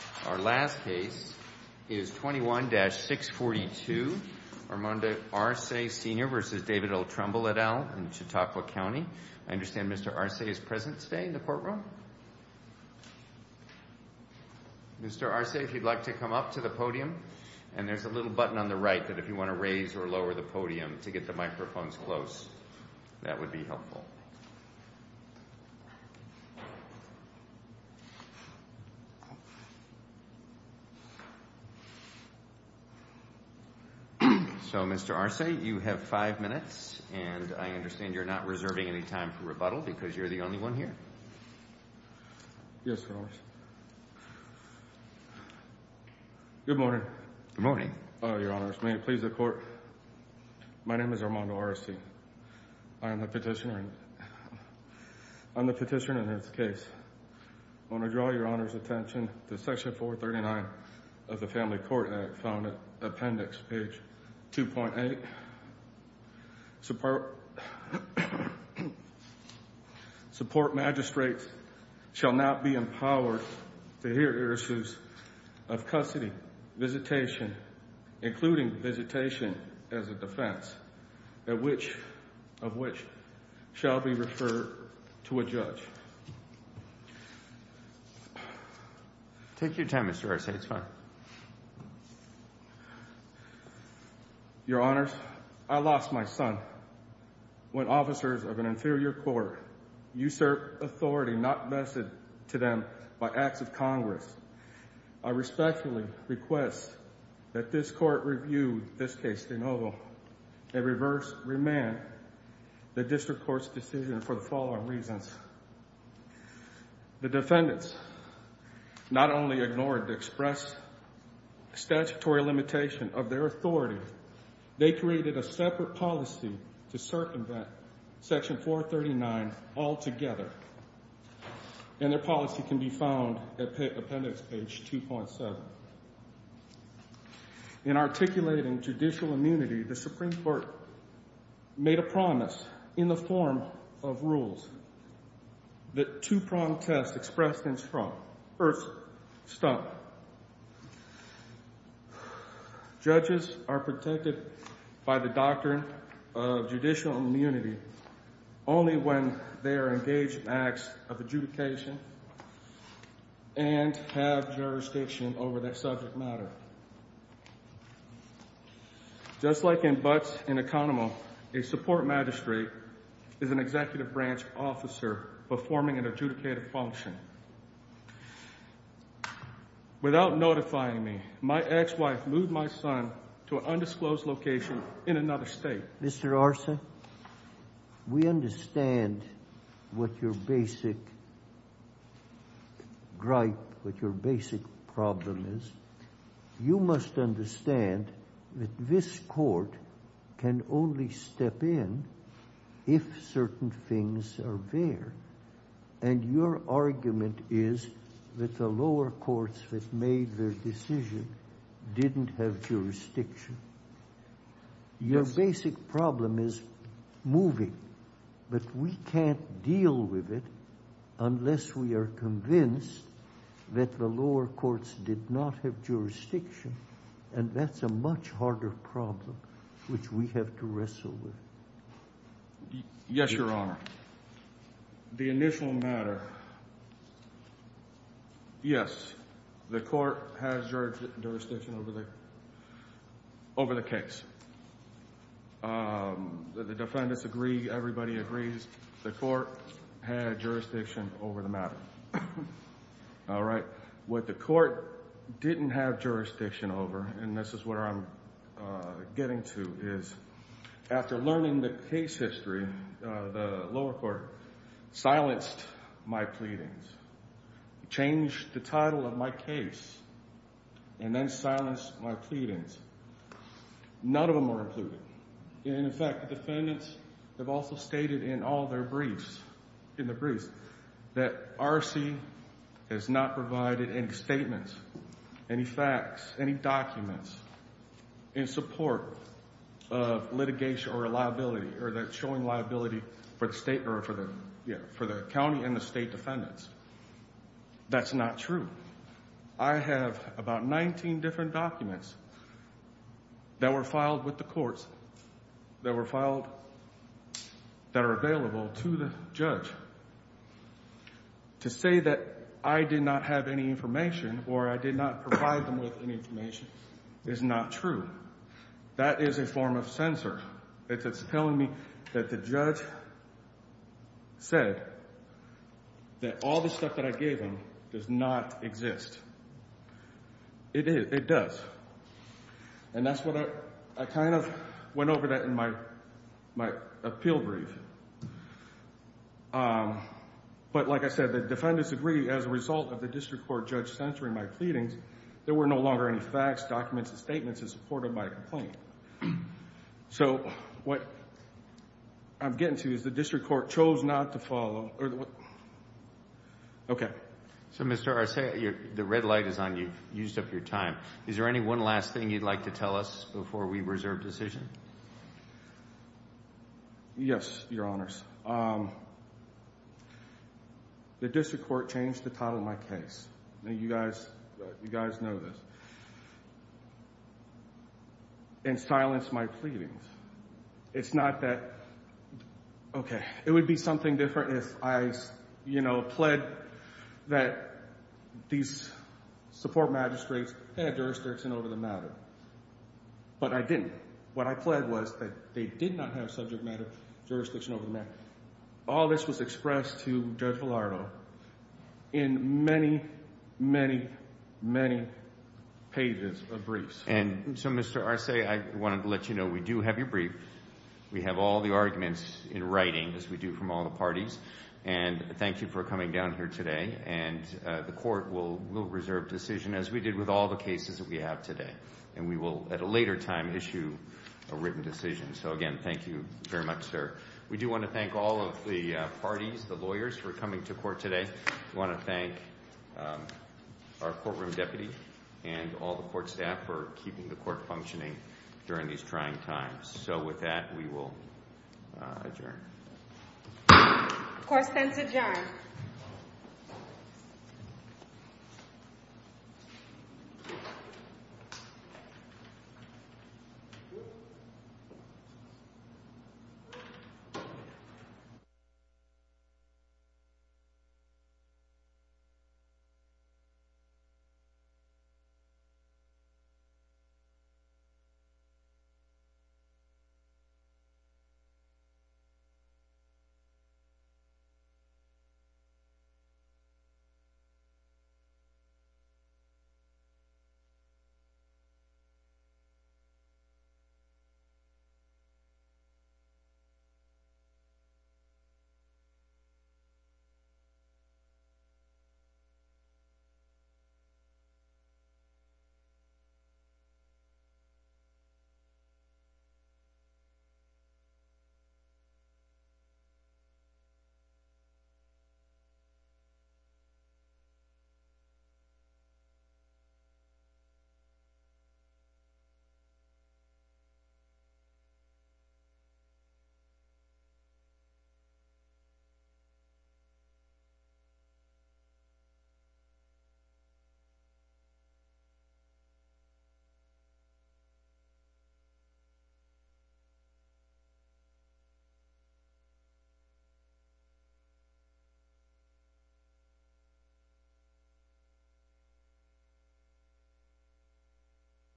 21-642 Armando Arce Sr. v. David L. Trumbull et al. Chautauqua County Mr. Arce, you have five minutes, and I understand you're not reserving any time for rebuttal because you're the only one here. Yes, Your Honor. Good morning. Good morning. Your Honor, may it please the Court, my name is Armando Arce. I am the petitioner in this case. I want to draw Your Honor's attention to Section 439 of the Family Court Appendix, page 2.8. Support magistrates shall not be empowered to hear heuristics of custody, visitation, including visitation as a defense, of which shall be referred to a judge. Take your time, Mr. Arce. It's fine. Your Honors, I lost my son when officers of an inferior court usurp authority not vested to them by acts of Congress. I respectfully request that this Court review this case de novo and remand the district court's decision for the following reasons. The defendants not only ignored the express statutory limitation of their authority, they created a separate policy to circumvent Section 439 altogether. And their policy can be found at Appendix page 2.7. In articulating judicial immunity, the Supreme Court made a promise in the form of rules that two-pronged tests expressed in strong, first, stump. Judges are protected by the doctrine of judicial immunity only when they are engaged in acts of adjudication and have jurisdiction over that subject matter. Just like in Butts and Economo, a support magistrate is an executive branch officer performing an adjudicated function. Without notifying me, my ex-wife moved my son to an undisclosed location in another state. Mr. Arce, we understand what your basic gripe, what your basic problem is. You must understand that this Court can only step in if certain things are there. And your argument is that the lower courts that made their decision didn't have jurisdiction. Your basic problem is moving. But we can't deal with it unless we are convinced that the lower courts did not have jurisdiction. And that's a much harder problem which we have to wrestle with. Yes, Your Honor. The initial matter, yes, the Court has jurisdiction over the case. The defendants agree, everybody agrees. The Court had jurisdiction over the matter. All right. What the Court didn't have jurisdiction over, and this is where I'm getting to, is after learning the case history, the lower court silenced my pleadings, changed the title of my case, and then silenced my pleadings. None of them were included. And, in fact, the defendants have also stated in all their briefs, in the briefs, that RC has not provided any statements, any facts, any documents in support of litigation or liability or showing liability for the state or for the county and the state defendants. That's not true. I have about 19 different documents that were filed with the courts, that were filed, that are available to the judge. To say that I did not have any information or I did not provide them with any information is not true. That is a form of censor. It's telling me that the judge said that all the stuff that I gave him does not exist. It does. And that's what I kind of went over that in my appeal brief. But, like I said, the defendants agree, as a result of the district court judge censoring my pleadings, there were no longer any facts, documents, or statements in support of my complaint. So what I'm getting to is the district court chose not to follow. Okay. So, Mr. Arce, the red light is on. You've used up your time. Is there any one last thing you'd like to tell us before we reserve decision? Yes, Your Honors. The district court changed the title of my case. You guys know this. And silenced my pleadings. It's not that, okay, it would be something different if I, you know, said that these support magistrates had jurisdiction over the matter. But I didn't. What I pled was that they did not have subject matter jurisdiction over the matter. All this was expressed to Judge Villardo in many, many, many pages of briefs. And so, Mr. Arce, I wanted to let you know we do have your brief. We have all the arguments in writing, as we do from all the parties. And thank you for coming down here today. And the court will reserve decision, as we did with all the cases that we have today. And we will, at a later time, issue a written decision. So, again, thank you very much, sir. We do want to thank all of the parties, the lawyers, for coming to court today. We want to thank our courtroom deputy and all the court staff for keeping the court functioning during these trying times. So, with that, we will adjourn. The court stands adjourned. The court is adjourned. The court is adjourned. The court is adjourned.